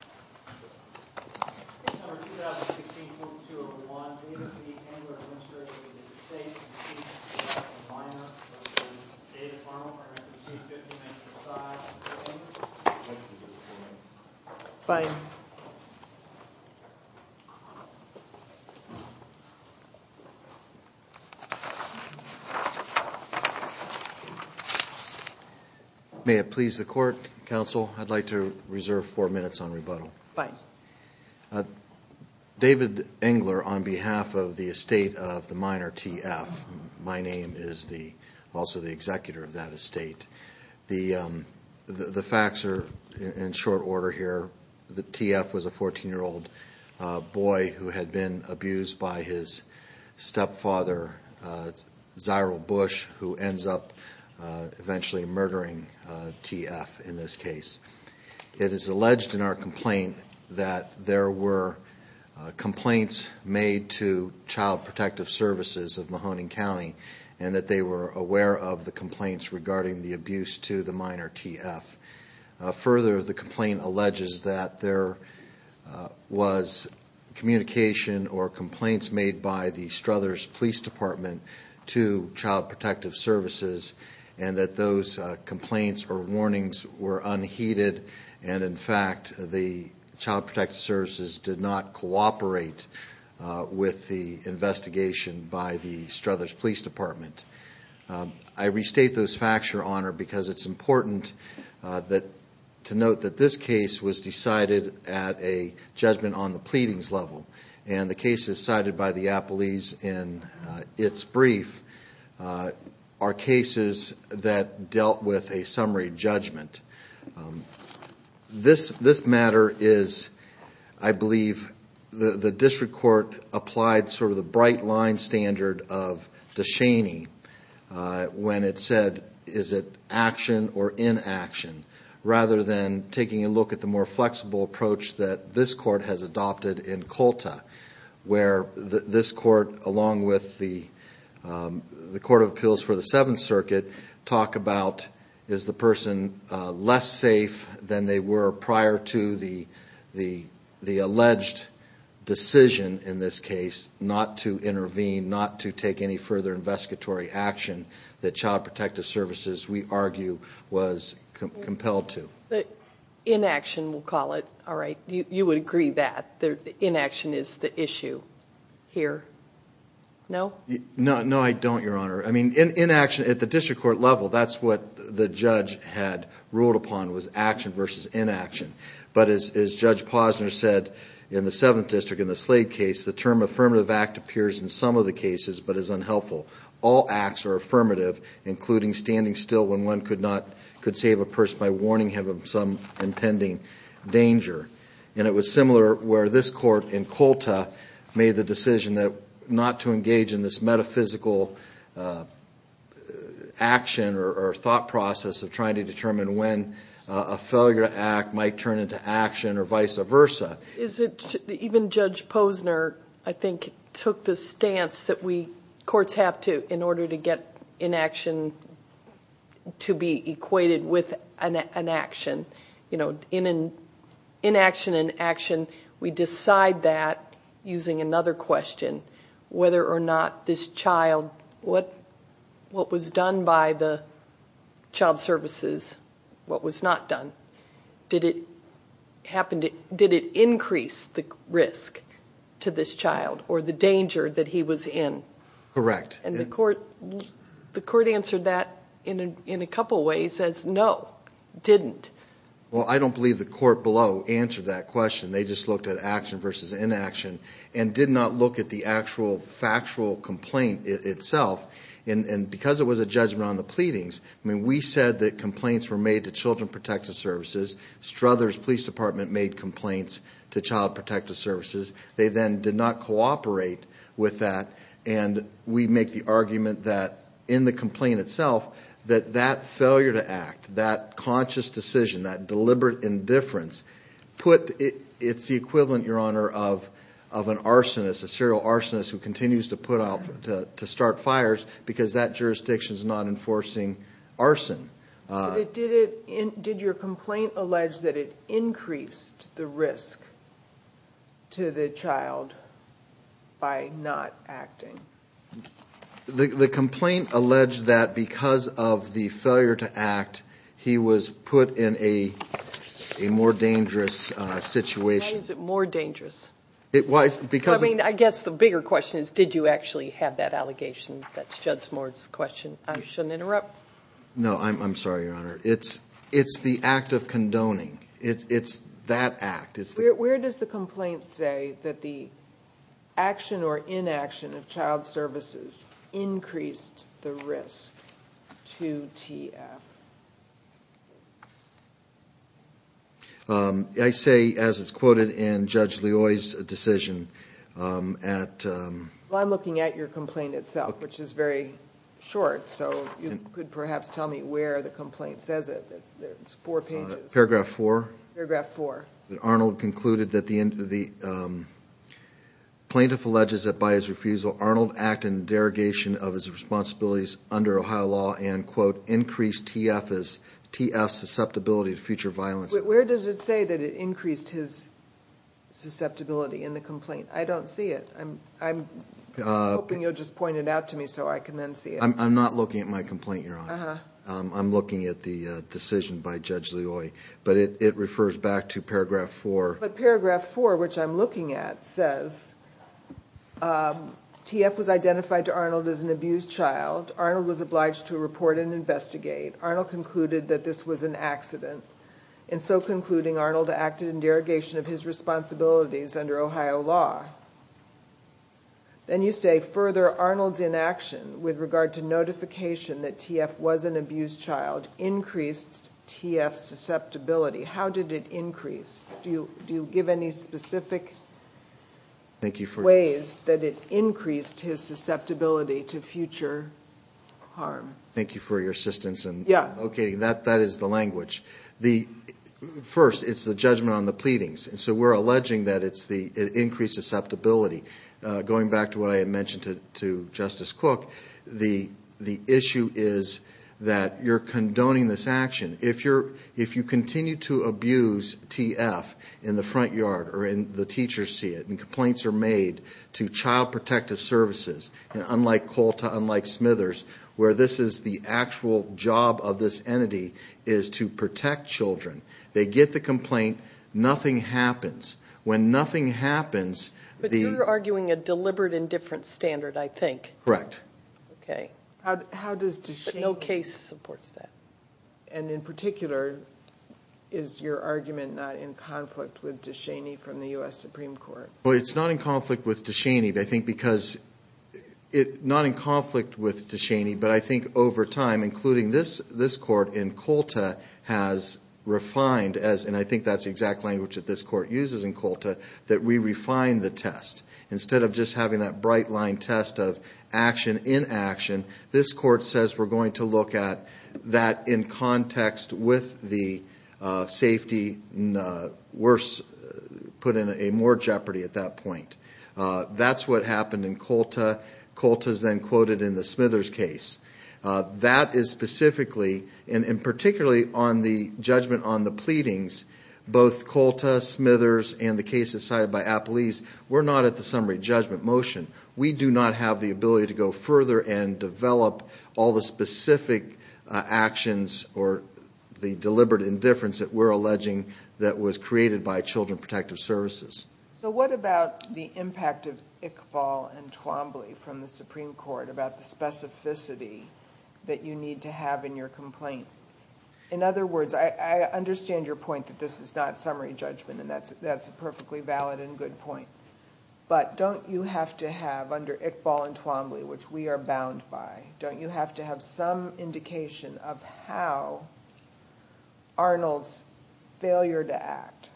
2016.2.1 David Engler, Administrator of the United States, received $50,000 in minor from the State Department for him to receive $50,000 in side payments. Thank you. Bye. Thank you. May it please the Court, Counsel, I'd like to reserve four minutes on rebuttal. Fine. David Engler, on behalf of the estate of the minor, T.F. My name is also the executor of that estate. The facts are in short order here. T.F. was a 14-year-old boy who had been abused by his stepfather, Ziral Bush, who ends up eventually murdering T.F. in this case. It is alleged in our complaint that there were complaints made to Child Protective Services of Mahoning County and that they were aware of the complaints regarding the abuse to the minor, T.F. Further, the complaint alleges that there was communication or complaints made by the Struthers Police Department to Child Protective Services and that those complaints or warnings were unheeded and, in fact, the Child Protective Services did not cooperate with the investigation by the Struthers Police Department. I restate those facts, Your Honor, because it's important to note that this case was decided at a judgment on the pleadings level, and the cases cited by the appellees in its brief are cases that dealt with a summary judgment. This matter is, I believe, the district court applied sort of the bright-line standard of DeShaney when it said, is it action or inaction, rather than taking a look at the more flexible approach that this court has adopted in Colta, where this court, along with the Court of Appeals for the Seventh Circuit, talk about, is the person less safe than they were prior to the alleged decision in this case not to intervene, not to take any further investigatory action that Child Protective Services, we argue, was compelled to. Inaction, we'll call it. All right. You would agree that inaction is the issue here. No? No, I don't, Your Honor. I mean, inaction at the district court level, that's what the judge had ruled upon was action versus inaction. But as Judge Posner said in the Seventh District in the Slade case, the term affirmative act appears in some of the cases but is unhelpful. All acts are affirmative, including standing still when one could save a person by warning him of some impending danger. And it was similar where this court in Colta made the decision not to engage in this metaphysical action or thought process of trying to determine when a failure to act might turn into action or vice versa. Even Judge Posner, I think, took the stance that courts have to in order to get inaction to be equated with an action. Inaction and action, we decide that using another question, whether or not this child, what was done by the child services, what was not done. Did it increase the risk to this child or the danger that he was in? Correct. And the court answered that in a couple ways as no, didn't. Well, I don't believe the court below answered that question. They just looked at action versus inaction and did not look at the actual factual complaint itself. And because it was a judgment on the pleadings, I mean, we said that complaints were made to Children Protective Services. Struthers Police Department made complaints to Child Protective Services. They then did not cooperate with that. And we make the argument that in the complaint itself that that failure to act, that conscious decision, that deliberate indifference, it's the equivalent, Your Honor, of an arsonist, a serial arsonist who continues to put out, to start fires because that jurisdiction is not enforcing arson. Did your complaint allege that it increased the risk to the child by not acting? The complaint alleged that because of the failure to act, he was put in a more dangerous situation. Why is it more dangerous? I mean, I guess the bigger question is, did you actually have that allegation? That's Judge Moore's question. I shouldn't interrupt. No, I'm sorry, Your Honor. It's the act of condoning. It's that act. Where does the complaint say that the action or inaction of Child Services increased the risk to TF? I say, as it's quoted in Judge Leoy's decision, at... Well, I'm looking at your complaint itself, which is very short, so you could perhaps tell me where the complaint says it. It's four pages. Paragraph four. Paragraph four. Arnold concluded that the plaintiff alleges that by his refusal, Arnold acted in derogation of his responsibilities under Ohio law and, quote, increased TF's susceptibility to future violence. Where does it say that it increased his susceptibility in the complaint? I don't see it. I'm hoping you'll just point it out to me so I can then see it. I'm not looking at my complaint, Your Honor. I'm looking at the decision by Judge Leoy. But it refers back to paragraph four. But paragraph four, which I'm looking at, says TF was identified to Arnold as an abused child. Arnold was obliged to report and investigate. Arnold concluded that this was an accident. In so concluding, Arnold acted in derogation of his responsibilities under Ohio law. Then you say, further, Arnold's inaction with regard to notification that TF was an abused child increased TF's susceptibility. How did it increase? Do you give any specific ways that it increased his susceptibility to future harm? Thank you for your assistance. Okay, that is the language. First, it's the judgment on the pleadings. So we're alleging that it increases susceptibility. Going back to what I had mentioned to Justice Cook, the issue is that you're condoning this action. If you continue to abuse TF in the front yard or the teachers see it, and complaints are made to Child Protective Services, unlike COLTA, unlike Smithers, where this is the actual job of this entity is to protect children. They get the complaint. Nothing happens. When nothing happens, the – But you're arguing a deliberate indifference standard, I think. Correct. Okay. But no case supports that. And in particular, is your argument not in conflict with DeShaney from the U.S. Supreme Court? Well, it's not in conflict with DeShaney, I think, because – not in conflict with DeShaney, but I think over time, including this court in COLTA has refined, and I think that's the exact language that this court uses in COLTA, that we refine the test. Instead of just having that bright-line test of action in action, this court says we're going to look at that in context with the safety, and worse, put in more jeopardy at that point. That's what happened in COLTA. COLTA is then quoted in the Smithers case. That is specifically, and particularly on the judgment on the pleadings, both COLTA, Smithers, and the case decided by Apolis, we're not at the summary judgment motion. We do not have the ability to go further and develop all the specific actions or the deliberate indifference that we're alleging that was created by Children Protective Services. So what about the impact of Iqbal and Twombly from the Supreme Court about the specificity that you need to have in your complaint? In other words, I understand your point that this is not summary judgment, and that's a perfectly valid and good point. But don't you have to have, under Iqbal and Twombly, which we are bound by, don't you have to have some indication of how Arnold's failure to act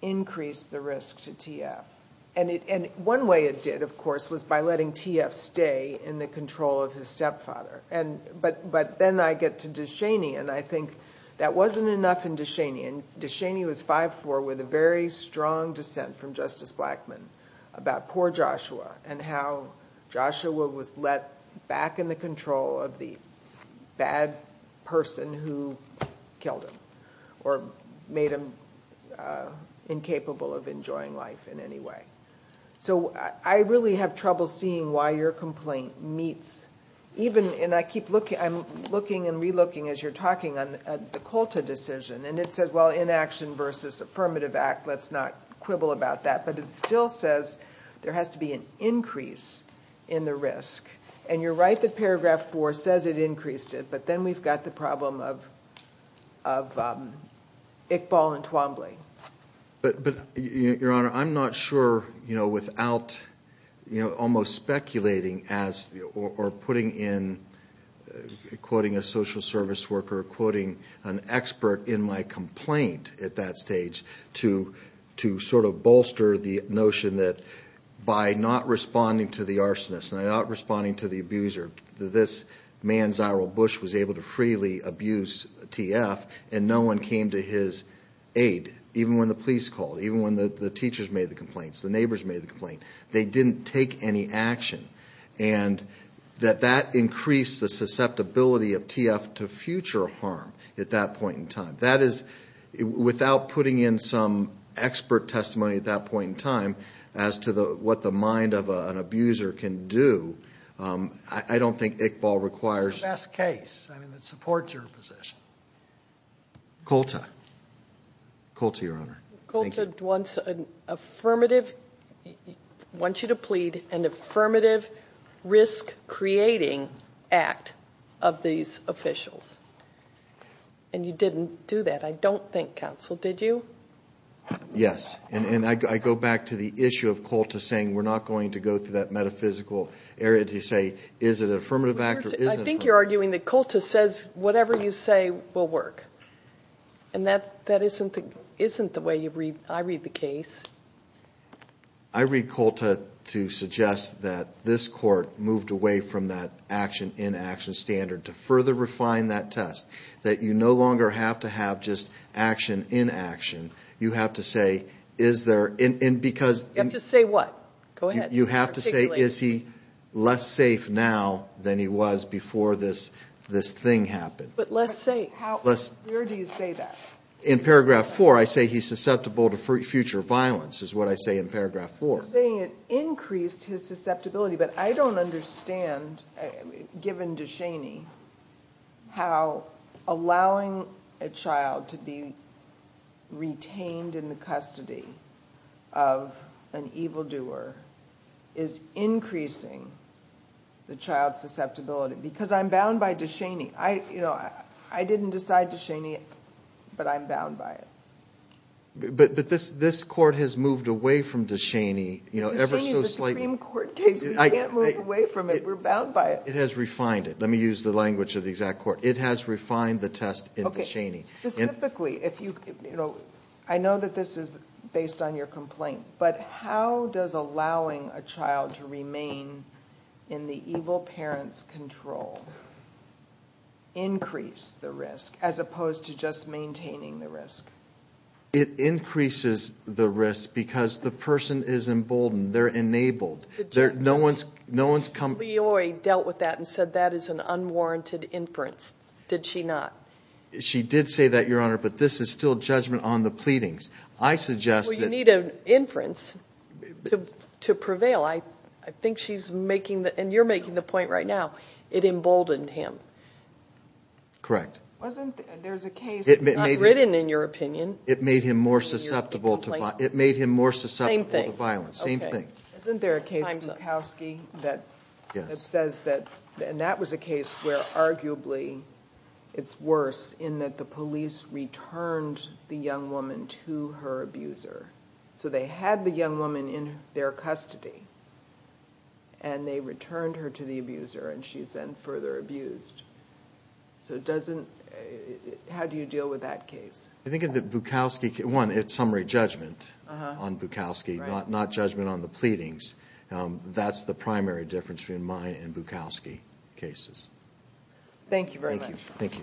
increased the risk to TF? And one way it did, of course, was by letting TF stay in the control of his stepfather. But then I get to DeShaney, and I think that wasn't enough in DeShaney. DeShaney was 5'4", with a very strong dissent from Justice Blackmun about poor Joshua and how Joshua was let back in the control of the bad person who killed him or made him incapable of enjoying life in any way. So I really have trouble seeing why your complaint meets. I'm looking and relooking as you're talking on the COLTA decision, and it says, well, inaction versus affirmative act, let's not quibble about that. But it still says there has to be an increase in the risk. And you're right that Paragraph 4 says it increased it, but then we've got the problem of Iqbal and Twombly. But, Your Honor, I'm not sure, you know, without almost speculating or putting in, quoting a social service worker, quoting an expert in my complaint at that stage to sort of bolster the notion that by not responding to the arsonist and not responding to the abuser, this man, Zyrell Bush, was able to freely abuse TF, and no one came to his aid, even when the police called, even when the teachers made the complaints, the neighbors made the complaint. They didn't take any action. And that that increased the susceptibility of TF to future harm at that point in time. That is, without putting in some expert testimony at that point in time as to what the mind of an abuser can do, I don't think Iqbal requires. It's the best case. I mean, it supports your position. COLTA. COLTA, Your Honor. COLTA wants an affirmative, wants you to plead an affirmative risk-creating act of these officials. And you didn't do that, I don't think, counsel, did you? Yes. And I go back to the issue of COLTA saying we're not going to go through that metaphysical area to say, is it an affirmative act or isn't it an affirmative act? I think you're arguing that COLTA says whatever you say will work. And that isn't the way I read the case. I read COLTA to suggest that this Court moved away from that action-in-action standard to further refine that test, that you no longer have to have just action-in-action. You have to say, is there and because. You have to say what? Go ahead. You have to say, is he less safe now than he was before this thing happened? But less safe. Where do you say that? In Paragraph 4, I say he's susceptible to future violence is what I say in Paragraph 4. I'm not saying it increased his susceptibility, but I don't understand, given DeShaney, how allowing a child to be retained in the custody of an evildoer is increasing the child's susceptibility. Because I'm bound by DeShaney. I didn't decide DeShaney, but I'm bound by it. But this Court has moved away from DeShaney ever so slightly. DeShaney is a Supreme Court case. We can't move away from it. We're bound by it. It has refined it. Let me use the language of the exact Court. It has refined the test in DeShaney. Specifically, I know that this is based on your complaint, as opposed to just maintaining the risk. It increases the risk because the person is emboldened. They're enabled. No one's come— Leoy dealt with that and said that is an unwarranted inference. Did she not? She did say that, Your Honor, but this is still judgment on the pleadings. I suggest that— Well, you need an inference to prevail. I think she's making—and you're making the point right now. It emboldened him. Correct. Wasn't there a case— It made him— It's not written in your opinion. It made him more susceptible to— In your complaint. It made him more susceptible to violence. Same thing. Okay. Same thing. Isn't there a case in Bukowski that says that— Yes. And that was a case where arguably it's worse in that the police returned the young woman to her abuser. So they had the young woman in their custody, and they returned her to the abuser, and she's then further abused. So it doesn't—how do you deal with that case? I think that Bukowski—one, it's summary judgment on Bukowski, not judgment on the pleadings. That's the primary difference between mine and Bukowski cases. Thank you very much. Thank you.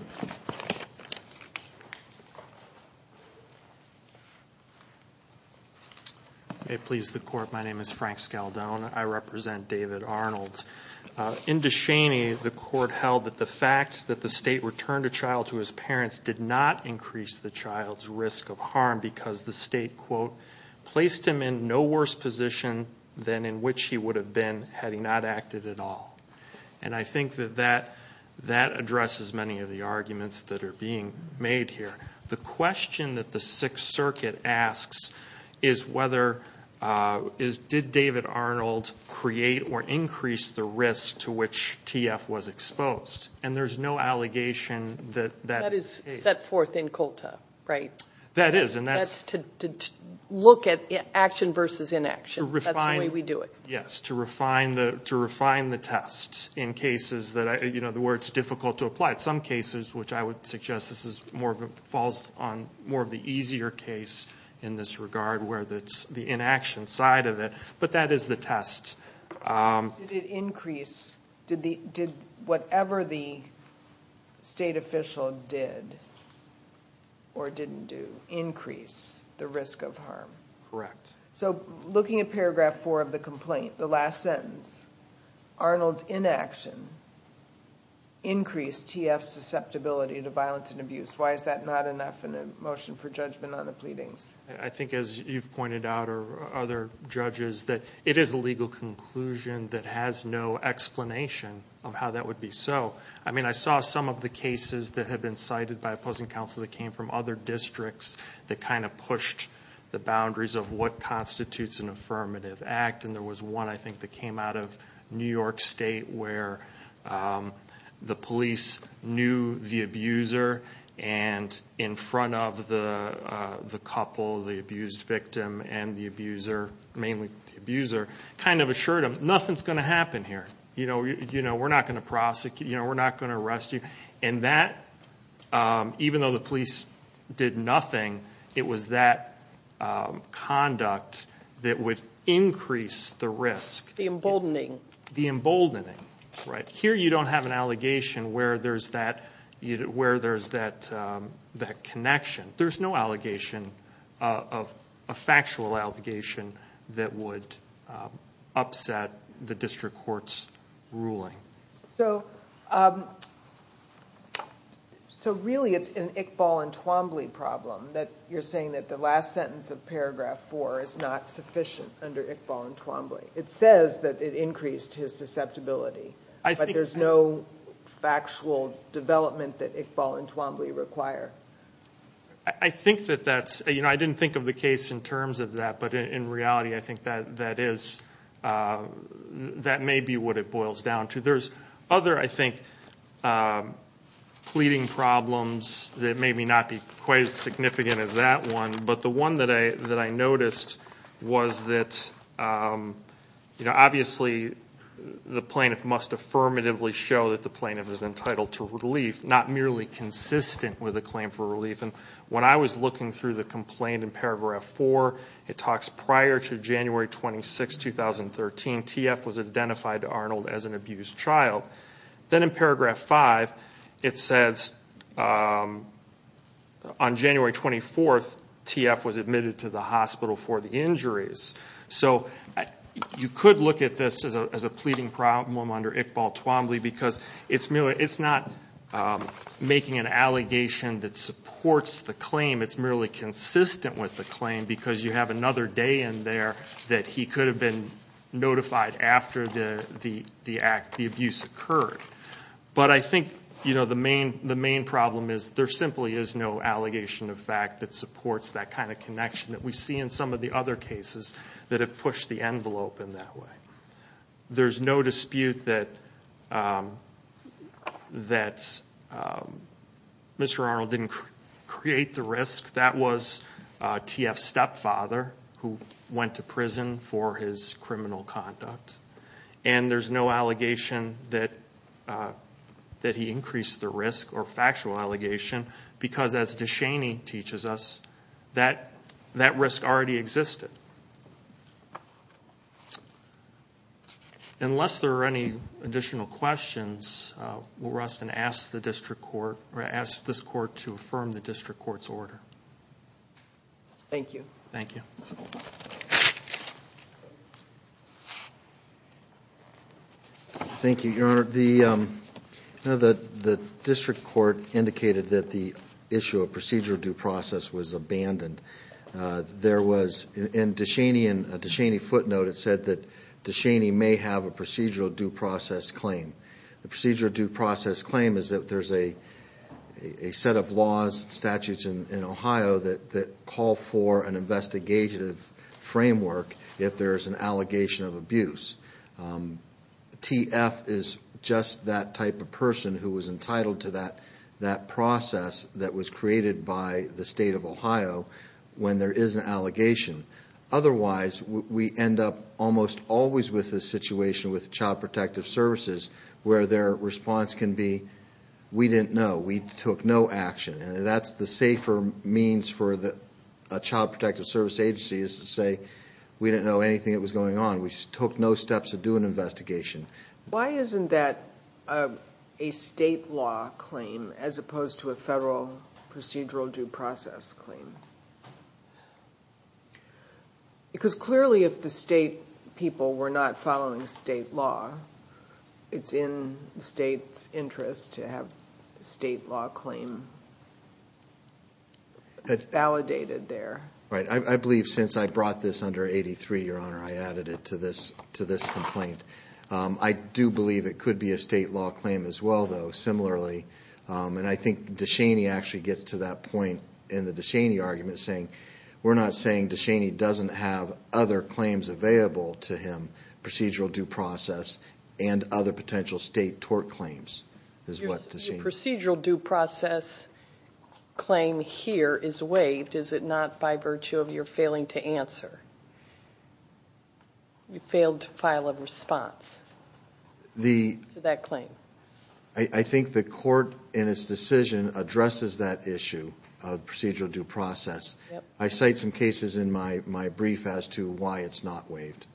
May it please the Court. My name is Frank Scaldone. I represent David Arnold. In Descheny, the Court held that the fact that the state returned a child to his parents did not increase the child's risk of harm because the state, quote, placed him in no worse position than in which he would have been had he not acted at all. And I think that that addresses many of the arguments that are being made here. The question that the Sixth Circuit asks is whether— is did David Arnold create or increase the risk to which TF was exposed? And there's no allegation that that is the case. That is set forth in COLTA, right? That is, and that's— That's to look at action versus inaction. To refine— That's the way we do it. Yes, to refine the test in cases that—you know, where it's difficult to apply. Some cases, which I would suggest this is more of a—falls on more of the easier case in this regard, where it's the inaction side of it. But that is the test. Did it increase? Did whatever the state official did or didn't do increase the risk of harm? Correct. So looking at paragraph 4 of the complaint, the last sentence, Arnold's inaction increased TF's susceptibility to violence and abuse. Why is that not enough in a motion for judgment on the pleadings? I think, as you've pointed out or other judges, that it is a legal conclusion that has no explanation of how that would be so. I mean, I saw some of the cases that have been cited by opposing counsel that came from other districts that kind of pushed the boundaries of what constitutes an affirmative act. And there was one, I think, that came out of New York State where the police knew the abuser and in front of the couple, the abused victim and the abuser, mainly the abuser, kind of assured them, nothing's going to happen here. You know, we're not going to prosecute. You know, we're not going to arrest you. And that, even though the police did nothing, it was that conduct that would increase the risk. The emboldening. The emboldening, right. Here you don't have an allegation where there's that connection. There's no allegation of a factual allegation that would upset the district court's ruling. So really it's an Iqbal and Twombly problem that you're saying that the last sentence of paragraph four is not sufficient under Iqbal and Twombly. It says that it increased his susceptibility, but there's no factual development that Iqbal and Twombly require. I think that that's, you know, I didn't think of the case in terms of that, but in reality I think that is, that may be what it boils down to. There's other, I think, pleading problems that may not be quite as significant as that one, but the one that I noticed was that, you know, obviously the plaintiff must affirmatively show that the plaintiff is entitled to relief, not merely consistent with a claim for relief. And when I was looking through the complaint in paragraph four, it talks prior to January 26, 2013, TF was identified to Arnold as an abused child. Then in paragraph five it says on January 24, TF was admitted to the hospital for the injuries. So you could look at this as a pleading problem under Iqbal and Twombly because it's not making an allegation that supports the claim. It's merely consistent with the claim because you have another day in there that he could have been notified after the abuse occurred. But I think, you know, the main problem is there simply is no allegation of fact that supports that kind of connection that we see in some of the other cases that have pushed the envelope in that way. There's no dispute that Mr. Arnold didn't create the risk. That was TF's stepfather who went to prison for his criminal conduct. And there's no allegation that he increased the risk or factual allegation because as DeShaney teaches us, that risk already existed. Unless there are any additional questions, we'll rest and ask the district court or ask this court to affirm the district court's order. Thank you. Thank you. Thank you, Your Honor. The district court indicated that the issue of procedural due process was abandoned. There was, in DeShaney footnote, it said that DeShaney may have a procedural due process claim. The procedural due process claim is that there's a set of laws, statutes in Ohio that call for an investigative framework if there's an allegation of abuse. TF is just that type of person who was entitled to that process that was created by the state of Ohio when there is an allegation. Otherwise, we end up almost always with this situation with Child Protective Services where their response can be, we didn't know. We took no action. That's the safer means for a Child Protective Service agency is to say, we didn't know anything that was going on. We just took no steps to do an investigation. Why isn't that a state law claim as opposed to a federal procedural due process claim? Because clearly if the state people were not following state law, it's in the state's interest to have a state law claim validated there. Right. I believe since I brought this under 83, Your Honor, I added it to this complaint. I do believe it could be a state law claim as well, though. Similarly, and I think DeShaney actually gets to that point in the DeShaney argument saying, we're not saying DeShaney doesn't have other claims available to him, procedural due process and other potential state tort claims is what DeShaney says. If the procedural due process claim here is waived, is it not by virtue of your failing to answer? You failed to file a response to that claim. I think the court in its decision addresses that issue of procedural due process. I cite some cases in my brief as to why it's not waived.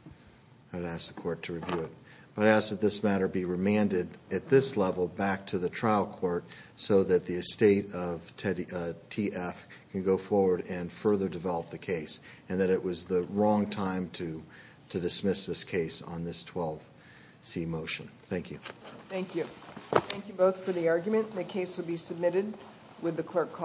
I'd ask the court to review it. I'd ask that this matter be remanded at this level back to the trial court so that the estate of TF can go forward and further develop the case and that it was the wrong time to dismiss this case on this 12C motion. Thank you. Thank you. Thank you both for the argument. The case will be submitted with the clerk calling.